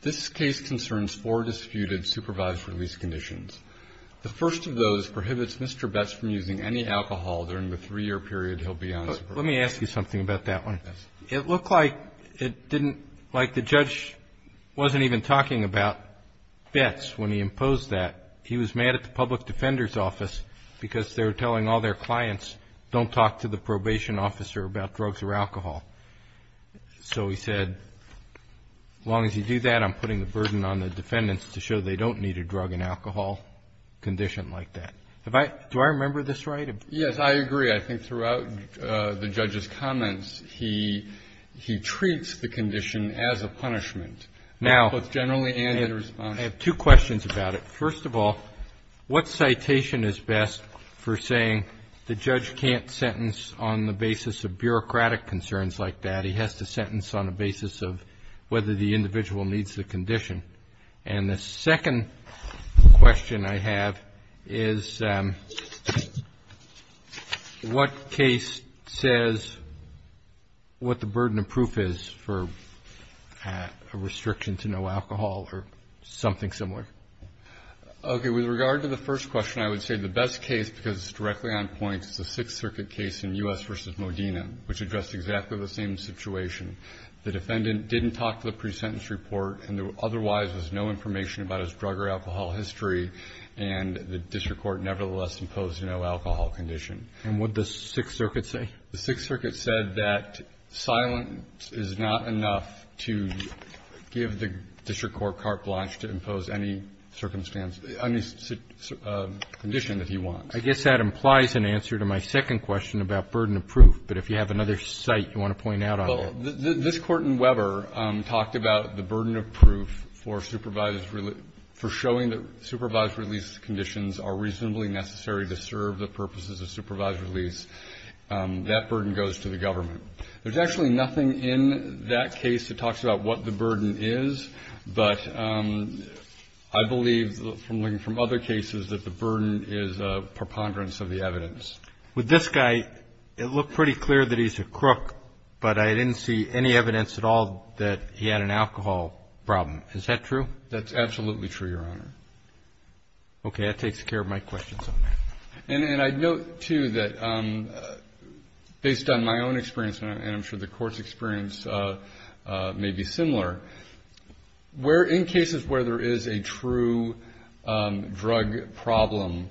This case concerns four disputed supervised release conditions. The first of those prohibits Mr. Betts from using any alcohol during the three-year period he'll be on supervision. Let me ask you something about that one. Yes. It looked like it didn't, like the judge wasn't even talking about Betts when he imposed that. He was mad at the public defender's office because they were telling all their clients, don't talk to the probation officer about drugs or alcohol. So he said, as long as you do that, I'm putting the burden on the defendants to show they don't need a drug and alcohol condition like that. Do I remember this right? Yes, I agree. I think throughout the judge's comments, he treats the condition as a punishment, both generally and in response. Now, I have two questions about it. First of all, what citation is best for saying the judge can't sentence on the basis of bureaucratic concerns like that? He has to sentence on the basis of whether the individual needs the condition. And the second question I have is what case says what the burden of proof is for a restriction to no alcohol or something similar? Okay. With regard to the first question, I would say the best case, because it's directly on point, is the Sixth Circuit case in U.S. v. Modena, which addressed exactly the same situation. The defendant didn't talk to the pre-sentence report, and there otherwise was no information about his drug or alcohol history. And the district court nevertheless imposed no alcohol condition. And what did the Sixth Circuit say? The Sixth Circuit said that silence is not enough to give the district court carte blanche to impose any circumstance any condition that he wants. I guess that implies an answer to my second question about burden of proof. But if you have another site you want to point out on that. Well, this Court in Weber talked about the burden of proof for showing that supervised release conditions are reasonably necessary to serve the purposes of supervised release. That burden goes to the government. There's actually nothing in that case that talks about what the burden is, but I believe from looking from other cases that the burden is a preponderance of the evidence. With this guy, it looked pretty clear that he's a crook, but I didn't see any evidence at all that he had an alcohol problem. Is that true? That's absolutely true, Your Honor. Okay. That takes care of my questions on that. And I'd note, too, that based on my own experience, and I'm sure the Court's experience may be similar, where in cases where there is a true drug problem,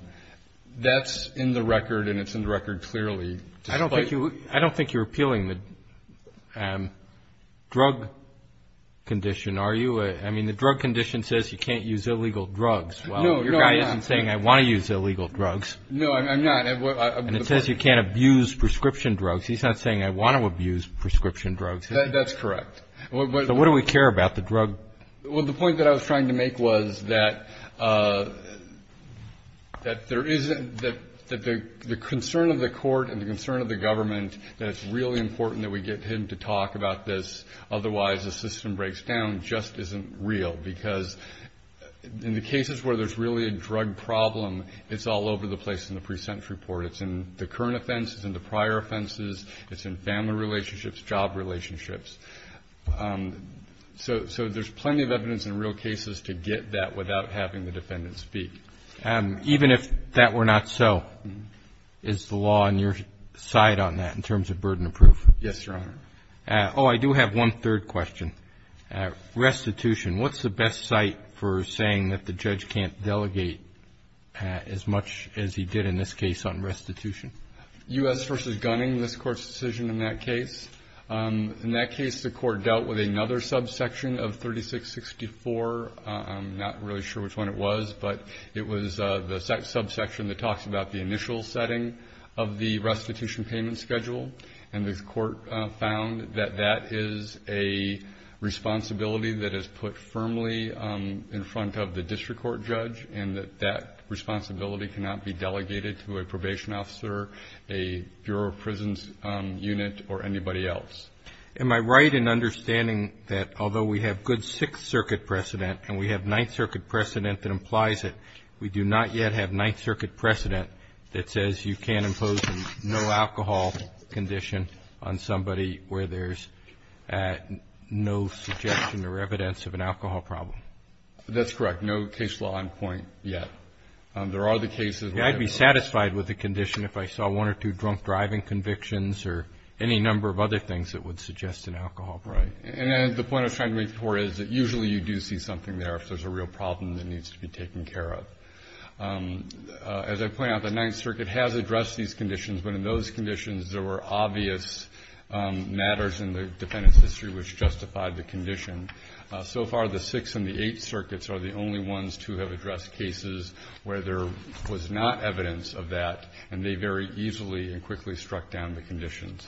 that's in the record and it's in the record clearly. I don't think you're appealing the drug condition, are you? I mean, the drug condition says you can't use illegal drugs. No, I'm not. Well, your guy isn't saying I want to use illegal drugs. No, I'm not. And it says you can't abuse prescription drugs. He's not saying I want to abuse prescription drugs. That's correct. So what do we care about, the drug? Well, the point that I was trying to make was that the concern of the Court and the concern of the government, that it's really important that we get him to talk about this, otherwise the system breaks down, just isn't real. Because in the cases where there's really a drug problem, it's all over the place in the pre-sentence report. It's in the current offenses and the prior offenses. It's in family relationships, job relationships. So there's plenty of evidence in real cases to get that without having the defendant speak. Even if that were not so, is the law on your side on that in terms of burden of proof? Yes, Your Honor. Oh, I do have one third question. Restitution, what's the best site for saying that the judge can't delegate as much as he did in this case on restitution? U.S. v. Gunning, this Court's decision in that case. In that case, the Court dealt with another subsection of 3664. I'm not really sure which one it was, but it was the subsection that talks about the initial setting of the restitution payment schedule. And the Court found that that is a responsibility that is put firmly in front of the district court judge and that that responsibility cannot be delegated to a probation officer, a Bureau of Prisons unit, or anybody else. Am I right in understanding that although we have good Sixth Circuit precedent and we have Ninth Circuit precedent that implies it, we do not yet have Ninth Circuit precedent that says you can't impose a no alcohol condition on somebody where there's no suggestion or evidence of an alcohol problem? That's correct. We have no case law on point yet. There are the cases where there are. I'd be satisfied with the condition if I saw one or two drunk driving convictions or any number of other things that would suggest an alcohol problem. Right. And the point I was trying to make before is that usually you do see something there if there's a real problem that needs to be taken care of. As I point out, the Ninth Circuit has addressed these conditions, but in those conditions there were obvious matters in the defendant's history which justified the condition. So far the Sixth and the Eighth Circuits are the only ones to have addressed cases where there was not evidence of that, and they very easily and quickly struck down the conditions.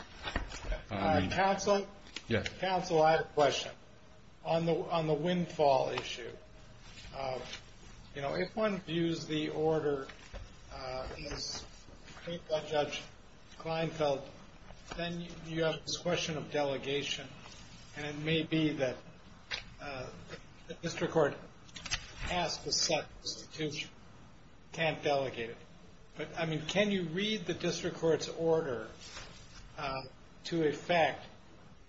Counsel, I have a question. On the windfall issue, if one views the order as made by Judge Kleinfeld, then you have this question of delegation, and it may be that the district court has to set the restitution, can't delegate it. But, I mean, can you read the district court's order to effect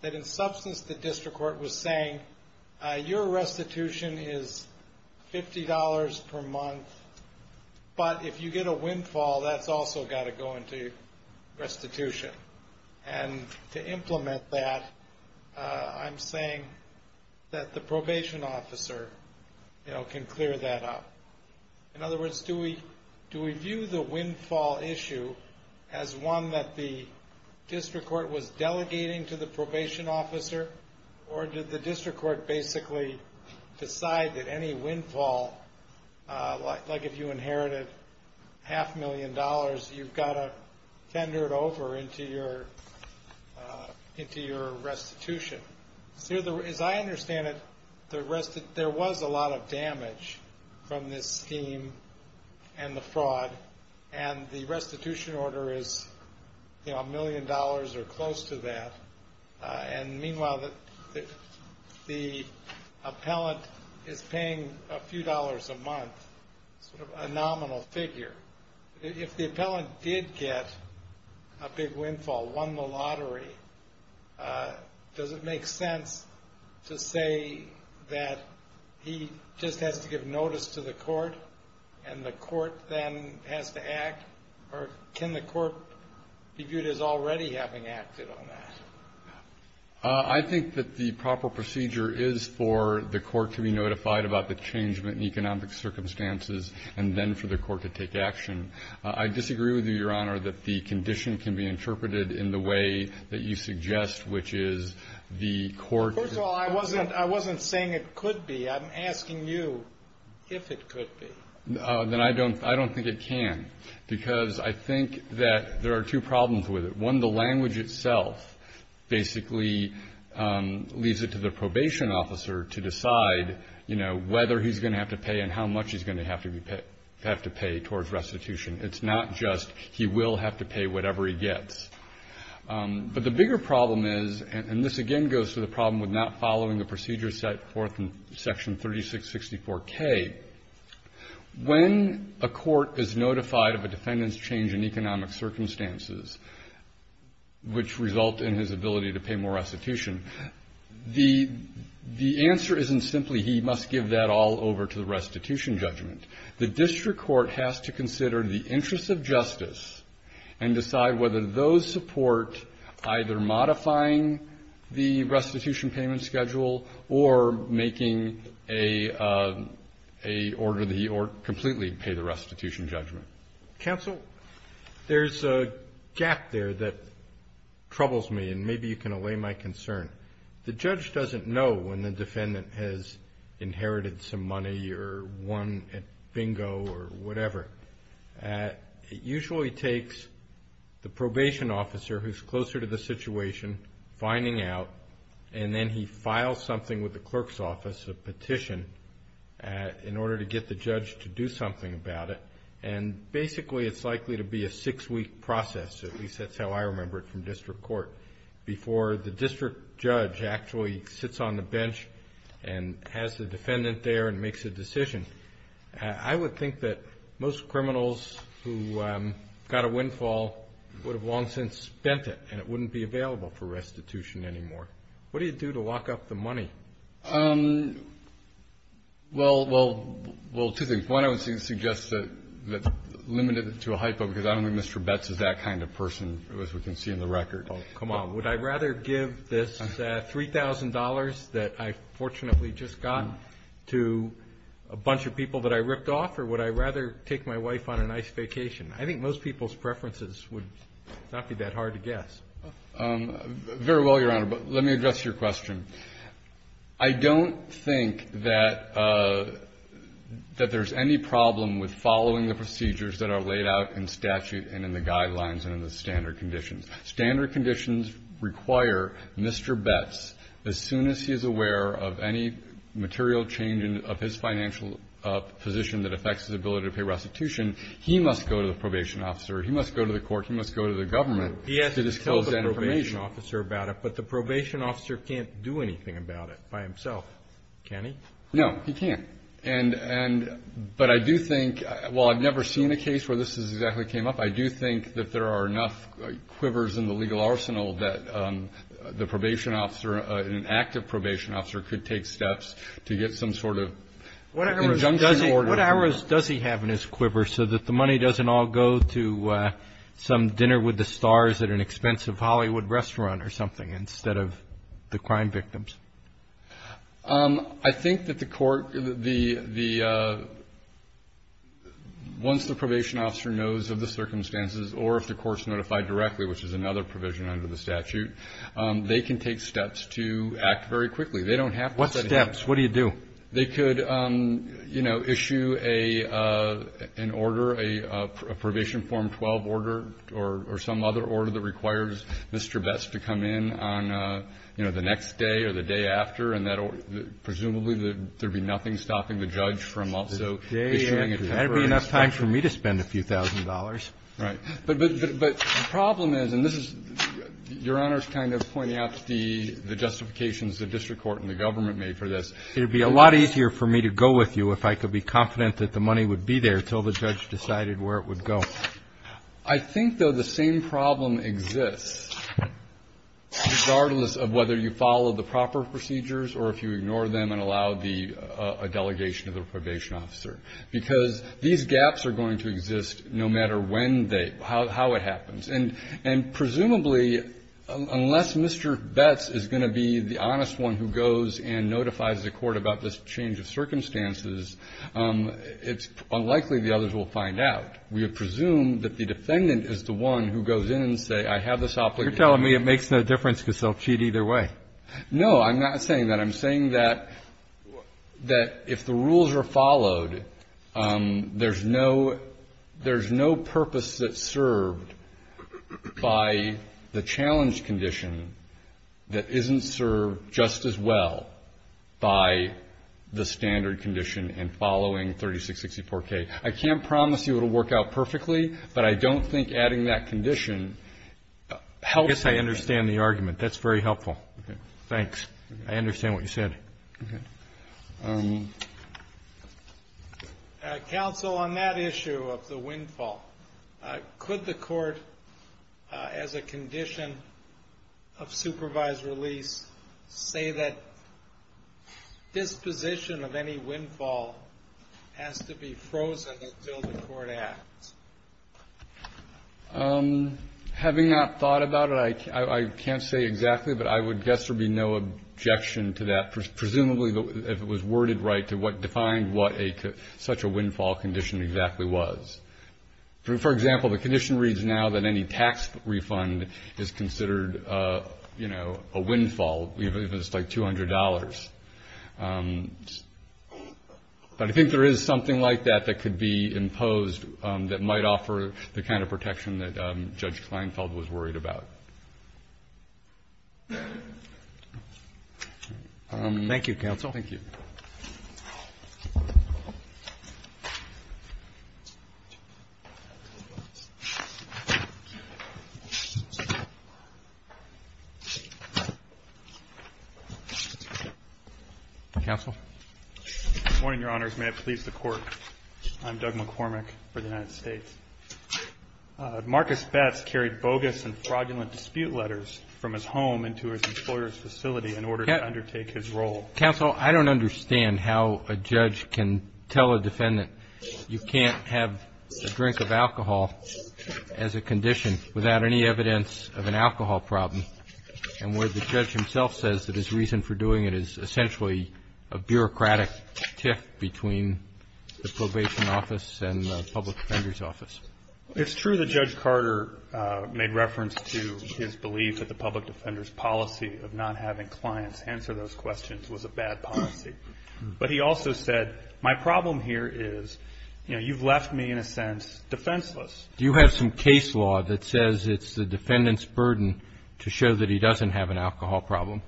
that in substance the district court was saying, your restitution is $50 per month, but if you get a windfall, that's also got to go into restitution. And to implement that, I'm saying that the probation officer can clear that up. In other words, do we view the windfall issue as one that the district court was delegating to the probation officer, or did the district court basically decide that any windfall, like if you inherited half a million dollars, you've got to tender it over into your restitution. As I understand it, there was a lot of damage from this scheme and the fraud, and the restitution order is a million dollars or close to that. And meanwhile, the appellant is paying a few dollars a month, sort of a nominal figure. If the appellant did get a big windfall, won the lottery, does it make sense to say that he just has to give notice to the court, and the court then has to act, or can the court be viewed as already having acted on that? I think that the proper procedure is for the court to be notified about the change in economic circumstances and then for the court to take action. I disagree with you, Your Honor, that the condition can be interpreted in the way that you suggest, which is the court First of all, I wasn't saying it could be. I'm asking you if it could be. Then I don't think it can, because I think that there are two problems with it. One, the language itself basically leaves it to the probation officer to decide, you know, whether he's going to have to pay and how much he's going to have to pay towards restitution. It's not just he will have to pay whatever he gets. But the bigger problem is, and this again goes to the problem with not following the procedure set forth in Section 3664K, when a court is notified of a defendant's change in economic circumstances, which result in his ability to pay more restitution, the answer isn't simply he must give that all over to the restitution judgment. The district court has to consider the interests of justice and decide whether those support either modifying the restitution payment schedule or making a order that he or completely pay the restitution judgment. Counsel, there's a gap there that troubles me, and maybe you can allay my concern. The judge doesn't know when the defendant has inherited some money or won at bingo or whatever. It usually takes the probation officer who's closer to the situation finding out, and then he files something with the clerk's office, a petition, in order to get the judge to do something about it. And basically it's likely to be a six-week process, at least that's how I remember it from district court, before the district judge actually sits on the bench and has the defendant there and makes a decision. I would think that most criminals who got a windfall would have long since spent it, and it wouldn't be available for restitution anymore. What do you do to lock up the money? Well, two things. One, I would suggest that's limited to a hypo, because I don't think Mr. Betz is that kind of person, as we can see in the record. Come on, would I rather give this $3,000 that I fortunately just got to a bunch of people that I ripped off, or would I rather take my wife on a nice vacation? I think most people's preferences would not be that hard to guess. Very well, Your Honor, but let me address your question. I don't think that there's any problem with following the procedures that are laid out in statute and in the guidelines and in the standard conditions. Standard conditions require Mr. Betz, as soon as he is aware of any material change of his financial position that affects his ability to pay restitution, he must go to the probation officer. He must go to the court. He must go to the government to disclose that information. He has to tell the probation officer about it, but the probation officer can't do anything about it by himself, can he? No, he can't. But I do think, while I've never seen a case where this exactly came up, I do think that there are enough quivers in the legal arsenal that the probation officer, an active probation officer could take steps to get some sort of injunction order. What hours does he have in his quiver so that the money doesn't all go to some dinner with the stars at an expensive Hollywood restaurant or something instead of the crime victims? I think that the court, the, once the probation officer knows of the circumstances or if the court's notified directly, which is another provision under the statute, they can take steps to act very quickly. They don't have to. What steps? What do you do? They could, you know, issue an order, a probation form 12 order or some other order that requires Mr. Best to come in on, you know, the next day or the day after, and that presumably there'd be nothing stopping the judge from also issuing it. There'd be enough time for me to spend a few thousand dollars. Right. But the problem is, and this is, Your Honor's kind of pointing out the justifications the district court and the government made for this. It would be a lot easier for me to go with you if I could be confident that the money would be there until the judge decided where it would go. I think, though, the same problem exists, regardless of whether you follow the proper procedures or if you ignore them and allow the delegation of the probation officer, because these gaps are going to exist no matter when they, how it happens. And presumably, unless Mr. Best is going to be the honest one who goes and notifies the court about this change of circumstances, it's unlikely the others will find out. We would presume that the defendant is the one who goes in and say, I have this obligation. You're telling me it makes no difference because they'll cheat either way. No, I'm not saying that. I'm saying that if the rules are followed, there's no purpose that's served by the challenge condition that isn't served just as well by the standard condition in following 3664K. I can't promise you it will work out perfectly, but I don't think adding that condition helps. I guess I understand the argument. That's very helpful. Thanks. I understand what you said. Counsel, on that issue of the windfall, could the court, as a condition of supervised release, say that disposition of any windfall has to be frozen until the court acts? Having not thought about it, I can't say exactly, but I would guess there would be no objection to that, presumably if it was worded right to define what such a windfall condition exactly was. For example, the condition reads now that any tax refund is considered a windfall, even if it's like $200. But I think there is something like that that could be imposed that might offer the kind of protection that Judge Kleinfeld was worried about. Thank you, Counsel. Thank you. Counsel? Good morning, Your Honors. May it please the Court, I'm Doug McCormick for the United States. Marcus Betz carried bogus and fraudulent dispute letters from his home into his employer's facility in order to undertake his role. Counsel, I don't understand how a judge can tell a defendant you can't have a drink of alcohol as a condition without any evidence of an alcohol problem, and where the judge himself says that his reason for doing it is essentially a bureaucratic tiff between the probation office and the public defender's office. It's true that Judge Carter made reference to his belief that the public defender's policy of not having clients answer those questions was a bad policy. But he also said, my problem here is, you know, you've left me, in a sense, defenseless. Do you have some case law that says it's the defendant's burden to show that he doesn't have an alcohol problem?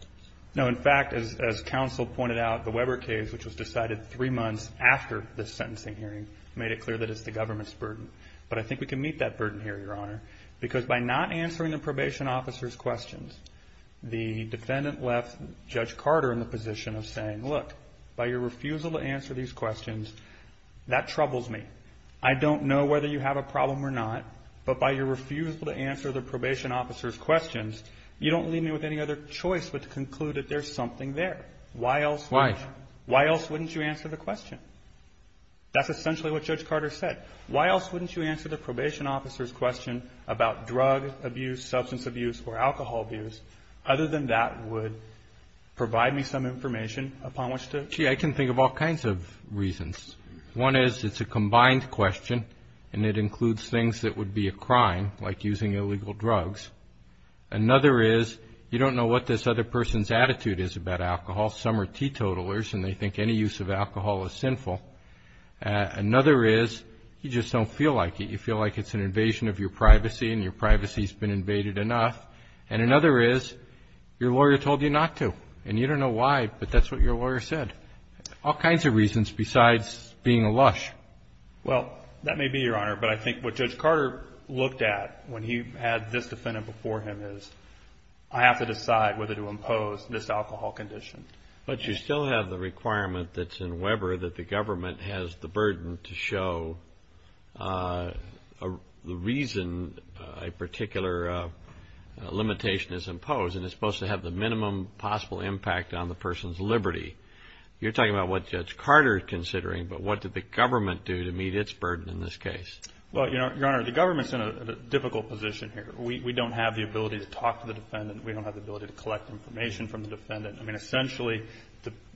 No. In fact, as Counsel pointed out, the Weber case, which was decided three months after this sentencing hearing, made it clear that it's the government's burden. But I think we can meet that burden here, Your Honor, because by not answering the probation officer's questions, the defendant left Judge Carter in the position of saying, look, by your refusal to answer these questions, that troubles me. I don't know whether you have a problem or not, but by your refusal to answer the probation officer's questions, you don't leave me with any other choice but to conclude that there's something there. Why else wouldn't you? Why? Why else wouldn't you answer the question? That's essentially what Judge Carter said. Why else wouldn't you answer the probation officer's question about drug abuse, substance abuse, or alcohol abuse, other than that would provide me some information upon which to? See, I can think of all kinds of reasons. One is it's a combined question, and it includes things that would be a crime, like using illegal drugs. Another is you don't know what this other person's attitude is about alcohol. Some are teetotalers, and they think any use of alcohol is sinful. Another is you just don't feel like it. You feel like it's an invasion of your privacy, and your privacy's been invaded enough. And another is your lawyer told you not to, and you don't know why, but that's what your lawyer said. All kinds of reasons besides being a lush. Well, that may be, Your Honor, but I think what Judge Carter looked at when he had this defendant before him is, I have to decide whether to impose this alcohol condition. But you still have the requirement that's in Weber that the government has the burden to show the reason a particular limitation is imposed, and it's supposed to have the minimum possible impact on the person's liberty. You're talking about what Judge Carter is considering, but what did the government do to meet its burden in this case? Well, Your Honor, the government's in a difficult position here. We don't have the ability to talk to the defendant. We don't have the ability to collect information from the defendant. I mean, essentially,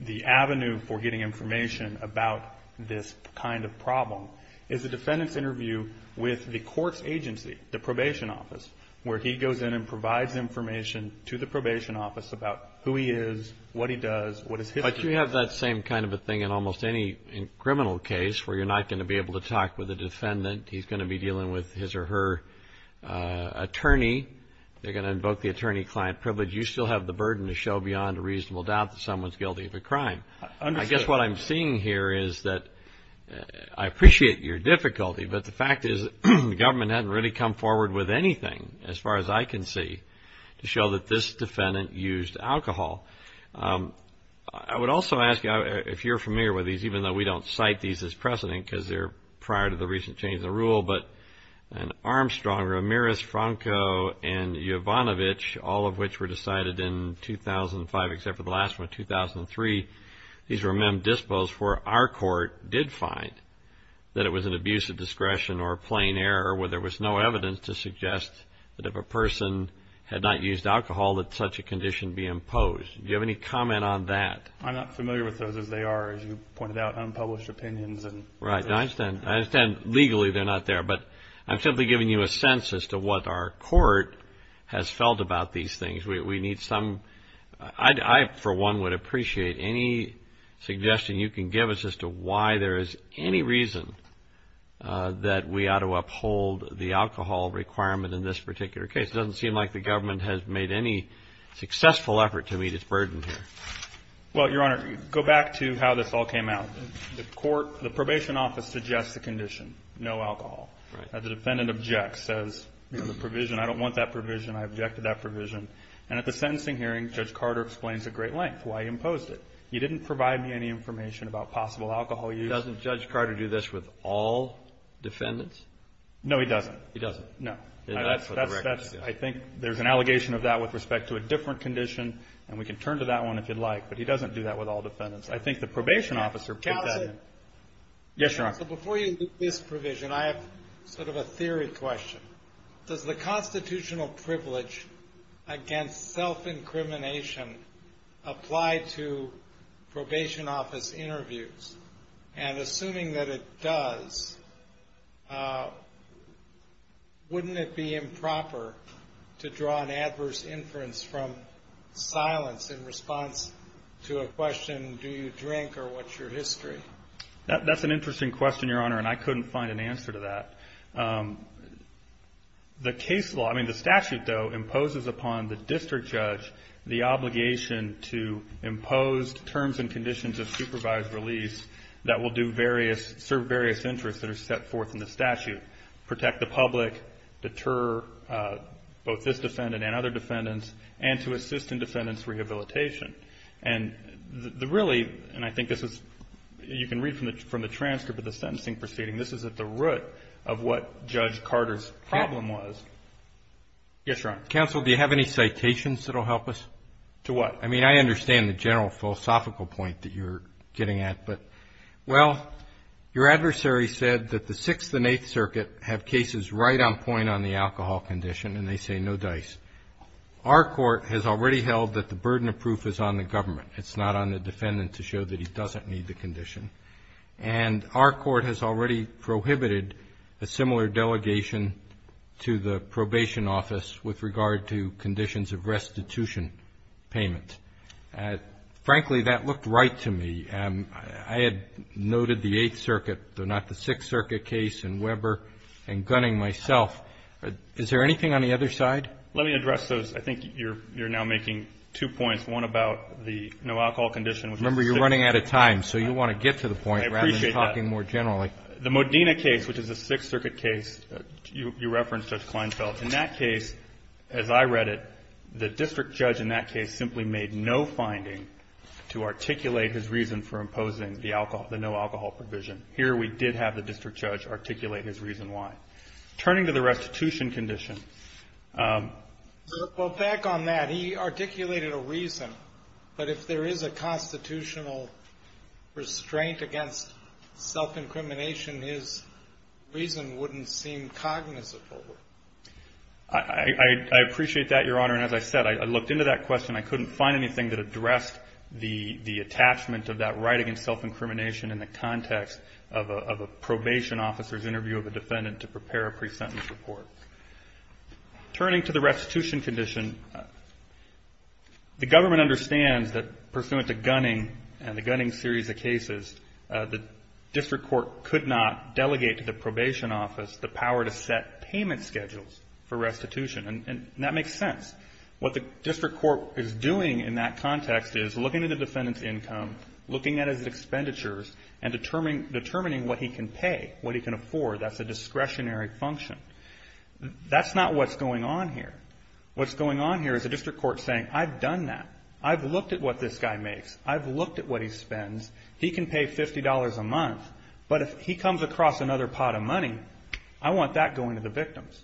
the avenue for getting information about this kind of problem is the defendant's interview with the court's agency, the probation office, where he goes in and provides information to the probation office about who he is, what he does, what his history is. But you have that same kind of a thing in almost any criminal case where you're not going to be able to talk with a defendant. He's going to be dealing with his or her attorney. They're going to invoke the attorney-client privilege. You still have the burden to show beyond a reasonable doubt that someone's guilty of a crime. I guess what I'm seeing here is that I appreciate your difficulty, but the fact is the government hasn't really come forward with anything, as far as I can see, to show that this defendant used alcohol. I would also ask, if you're familiar with these, even though we don't cite these as precedent because they're prior to the recent change in the rule, but Armstrong, Ramirez, Franco, and Yovanovitch, all of which were decided in 2005 except for the last one, 2003, these were mem dispos where our court did find that it was an abuse of discretion or plain error where there was no evidence to suggest that if a person had not used alcohol that such a condition be imposed. Do you have any comment on that? I'm not familiar with those as they are, as you pointed out, unpublished opinions. Right. I understand legally they're not there, but I'm simply giving you a sense as to what our court has felt about these things. We need some – I, for one, would appreciate any suggestion you can give us as to why there is any reason that we ought to uphold the alcohol requirement in this particular case. It doesn't seem like the government has made any successful effort to meet its burden here. Well, Your Honor, go back to how this all came out. The court – the probation office suggests a condition, no alcohol. Right. The defendant objects, says, you know, the provision, I don't want that provision, I object to that provision. And at the sentencing hearing, Judge Carter explains at great length why he imposed it. He didn't provide me any information about possible alcohol use. Doesn't Judge Carter do this with all defendants? No, he doesn't. He doesn't. No. That's what the record says. I think there's an allegation of that with respect to a different condition, and we can turn to that one if you'd like. But he doesn't do that with all defendants. I think the probation officer put that in. Counsel. Yes, Your Honor. Counsel, before you look at this provision, I have sort of a theory question. Does the constitutional privilege against self-incrimination apply to probation office interviews? And assuming that it does, wouldn't it be improper to draw an adverse inference from silence in response to a question, do you drink or what's your history? That's an interesting question, Your Honor, and I couldn't find an answer to that. The case law, I mean, the statute, though, imposes upon the district judge the obligation to impose terms and conditions of supervised release that will do various, serve various interests that are set forth in the statute, protect the public, deter both this defendant and other defendants, and to assist in defendant's rehabilitation. And the really, and I think this is, you can read from the transcript of the sentencing proceeding, this is at the root of what Judge Carter's problem was. Yes, Your Honor. Counsel, do you have any citations that will help us? To what? I mean, I understand the general philosophical point that you're getting at, but, well, your adversary said that the Sixth and Eighth Circuit have cases right on point on the alcohol condition, and they say no dice. Our court has already held that the burden of proof is on the government. It's not on the defendant to show that he doesn't need the condition. And our court has already prohibited a similar delegation to the probation office with regard to conditions of restitution payment. Frankly, that looked right to me. I had noted the Eighth Circuit, though not the Sixth Circuit case and Weber and Gunning myself. Is there anything on the other side? Let me address those. I think you're now making two points, one about the no alcohol condition. Remember, you're running out of time, so you want to get to the point rather than talking more generally. I appreciate that. The Modena case, which is a Sixth Circuit case, you referenced Judge Kleinfeld. In that case, as I read it, the district judge in that case simply made no finding to articulate his reason for imposing the no alcohol provision. Here we did have the district judge articulate his reason why. Turning to the restitution condition. Well, back on that, he articulated a reason. But if there is a constitutional restraint against self-incrimination, his reason wouldn't seem cognizant. I appreciate that, Your Honor. And as I said, I looked into that question. I couldn't find anything that addressed the attachment of that right against self-incrimination in the context of a probation officer's duty as a defendant to prepare a pre-sentence report. Turning to the restitution condition, the government understands that pursuant to Gunning and the Gunning series of cases, the district court could not delegate to the probation office the power to set payment schedules for restitution. And that makes sense. What the district court is doing in that context is looking at the defendant's income, looking at his expenditures, and determining what he can pay, what he can afford. That's a discretionary function. That's not what's going on here. What's going on here is the district court saying, I've done that. I've looked at what this guy makes. I've looked at what he spends. He can pay $50 a month. But if he comes across another pot of money, I want that going to the victims.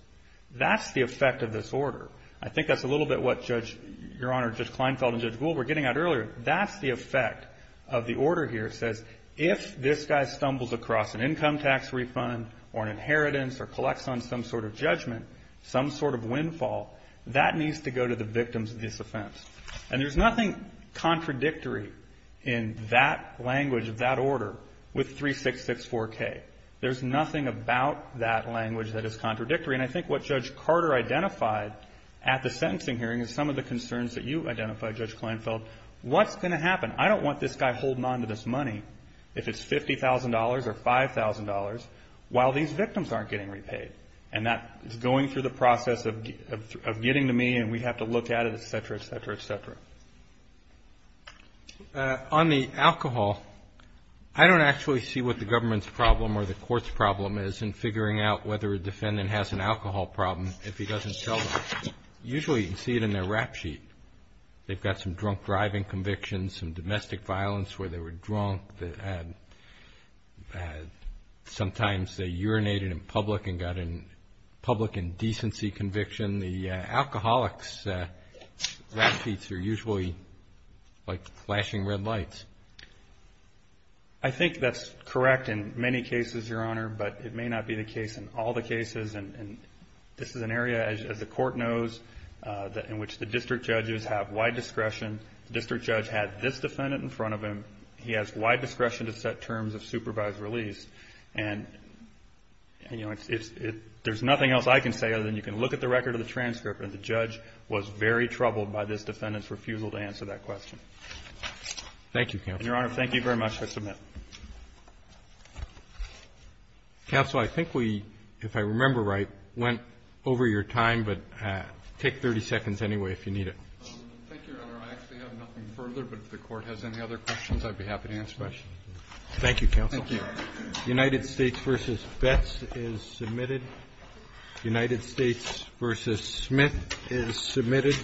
That's the effect of this order. I think that's a little bit what Judge, Your Honor, Judge Kleinfeld and Judge Gould were getting at earlier. That's the effect of the order here. It says if this guy stumbles across an income tax refund or an inheritance or collects on some sort of judgment, some sort of windfall, that needs to go to the victims of this offense. And there's nothing contradictory in that language of that order with 3664K. There's nothing about that language that is contradictory. And I think what Judge Carter identified at the sentencing hearing is some of the concerns that you identified, Judge Kleinfeld. What's going to happen? I don't want this guy holding on to this money, if it's $50,000 or $5,000, while these victims aren't getting repaid. And that is going through the process of getting to me and we have to look at it, et cetera, et cetera, et cetera. On the alcohol, I don't actually see what the government's problem or the court's problem is in figuring out whether a defendant has an alcohol problem if he doesn't tell them. Usually you can see it in their rap sheet. They've got some drunk driving convictions, some domestic violence where they were drunk. Sometimes they urinated in public and got a public indecency conviction. The alcoholics' rap sheets are usually like flashing red lights. I think that's correct in many cases, Your Honor, but it may not be the case in all the cases. And this is an area, as the court knows, in which the district judges have wide discretion. The district judge had this defendant in front of him. He has wide discretion to set terms of supervised release. And, you know, there's nothing else I can say other than you can look at the record of the transcript and the judge was very troubled by this defendant's refusal to answer that question. Thank you, Counsel. And, Your Honor, thank you very much. I submit. Counsel, I think we, if I remember right, went over your time, but take 30 seconds anyway if you need it. Thank you, Your Honor. I actually have nothing further, but if the court has any other questions, I'd be happy to answer questions. Thank you, Counsel. Thank you. United States v. Betz is submitted. United States v. Smith is submitted.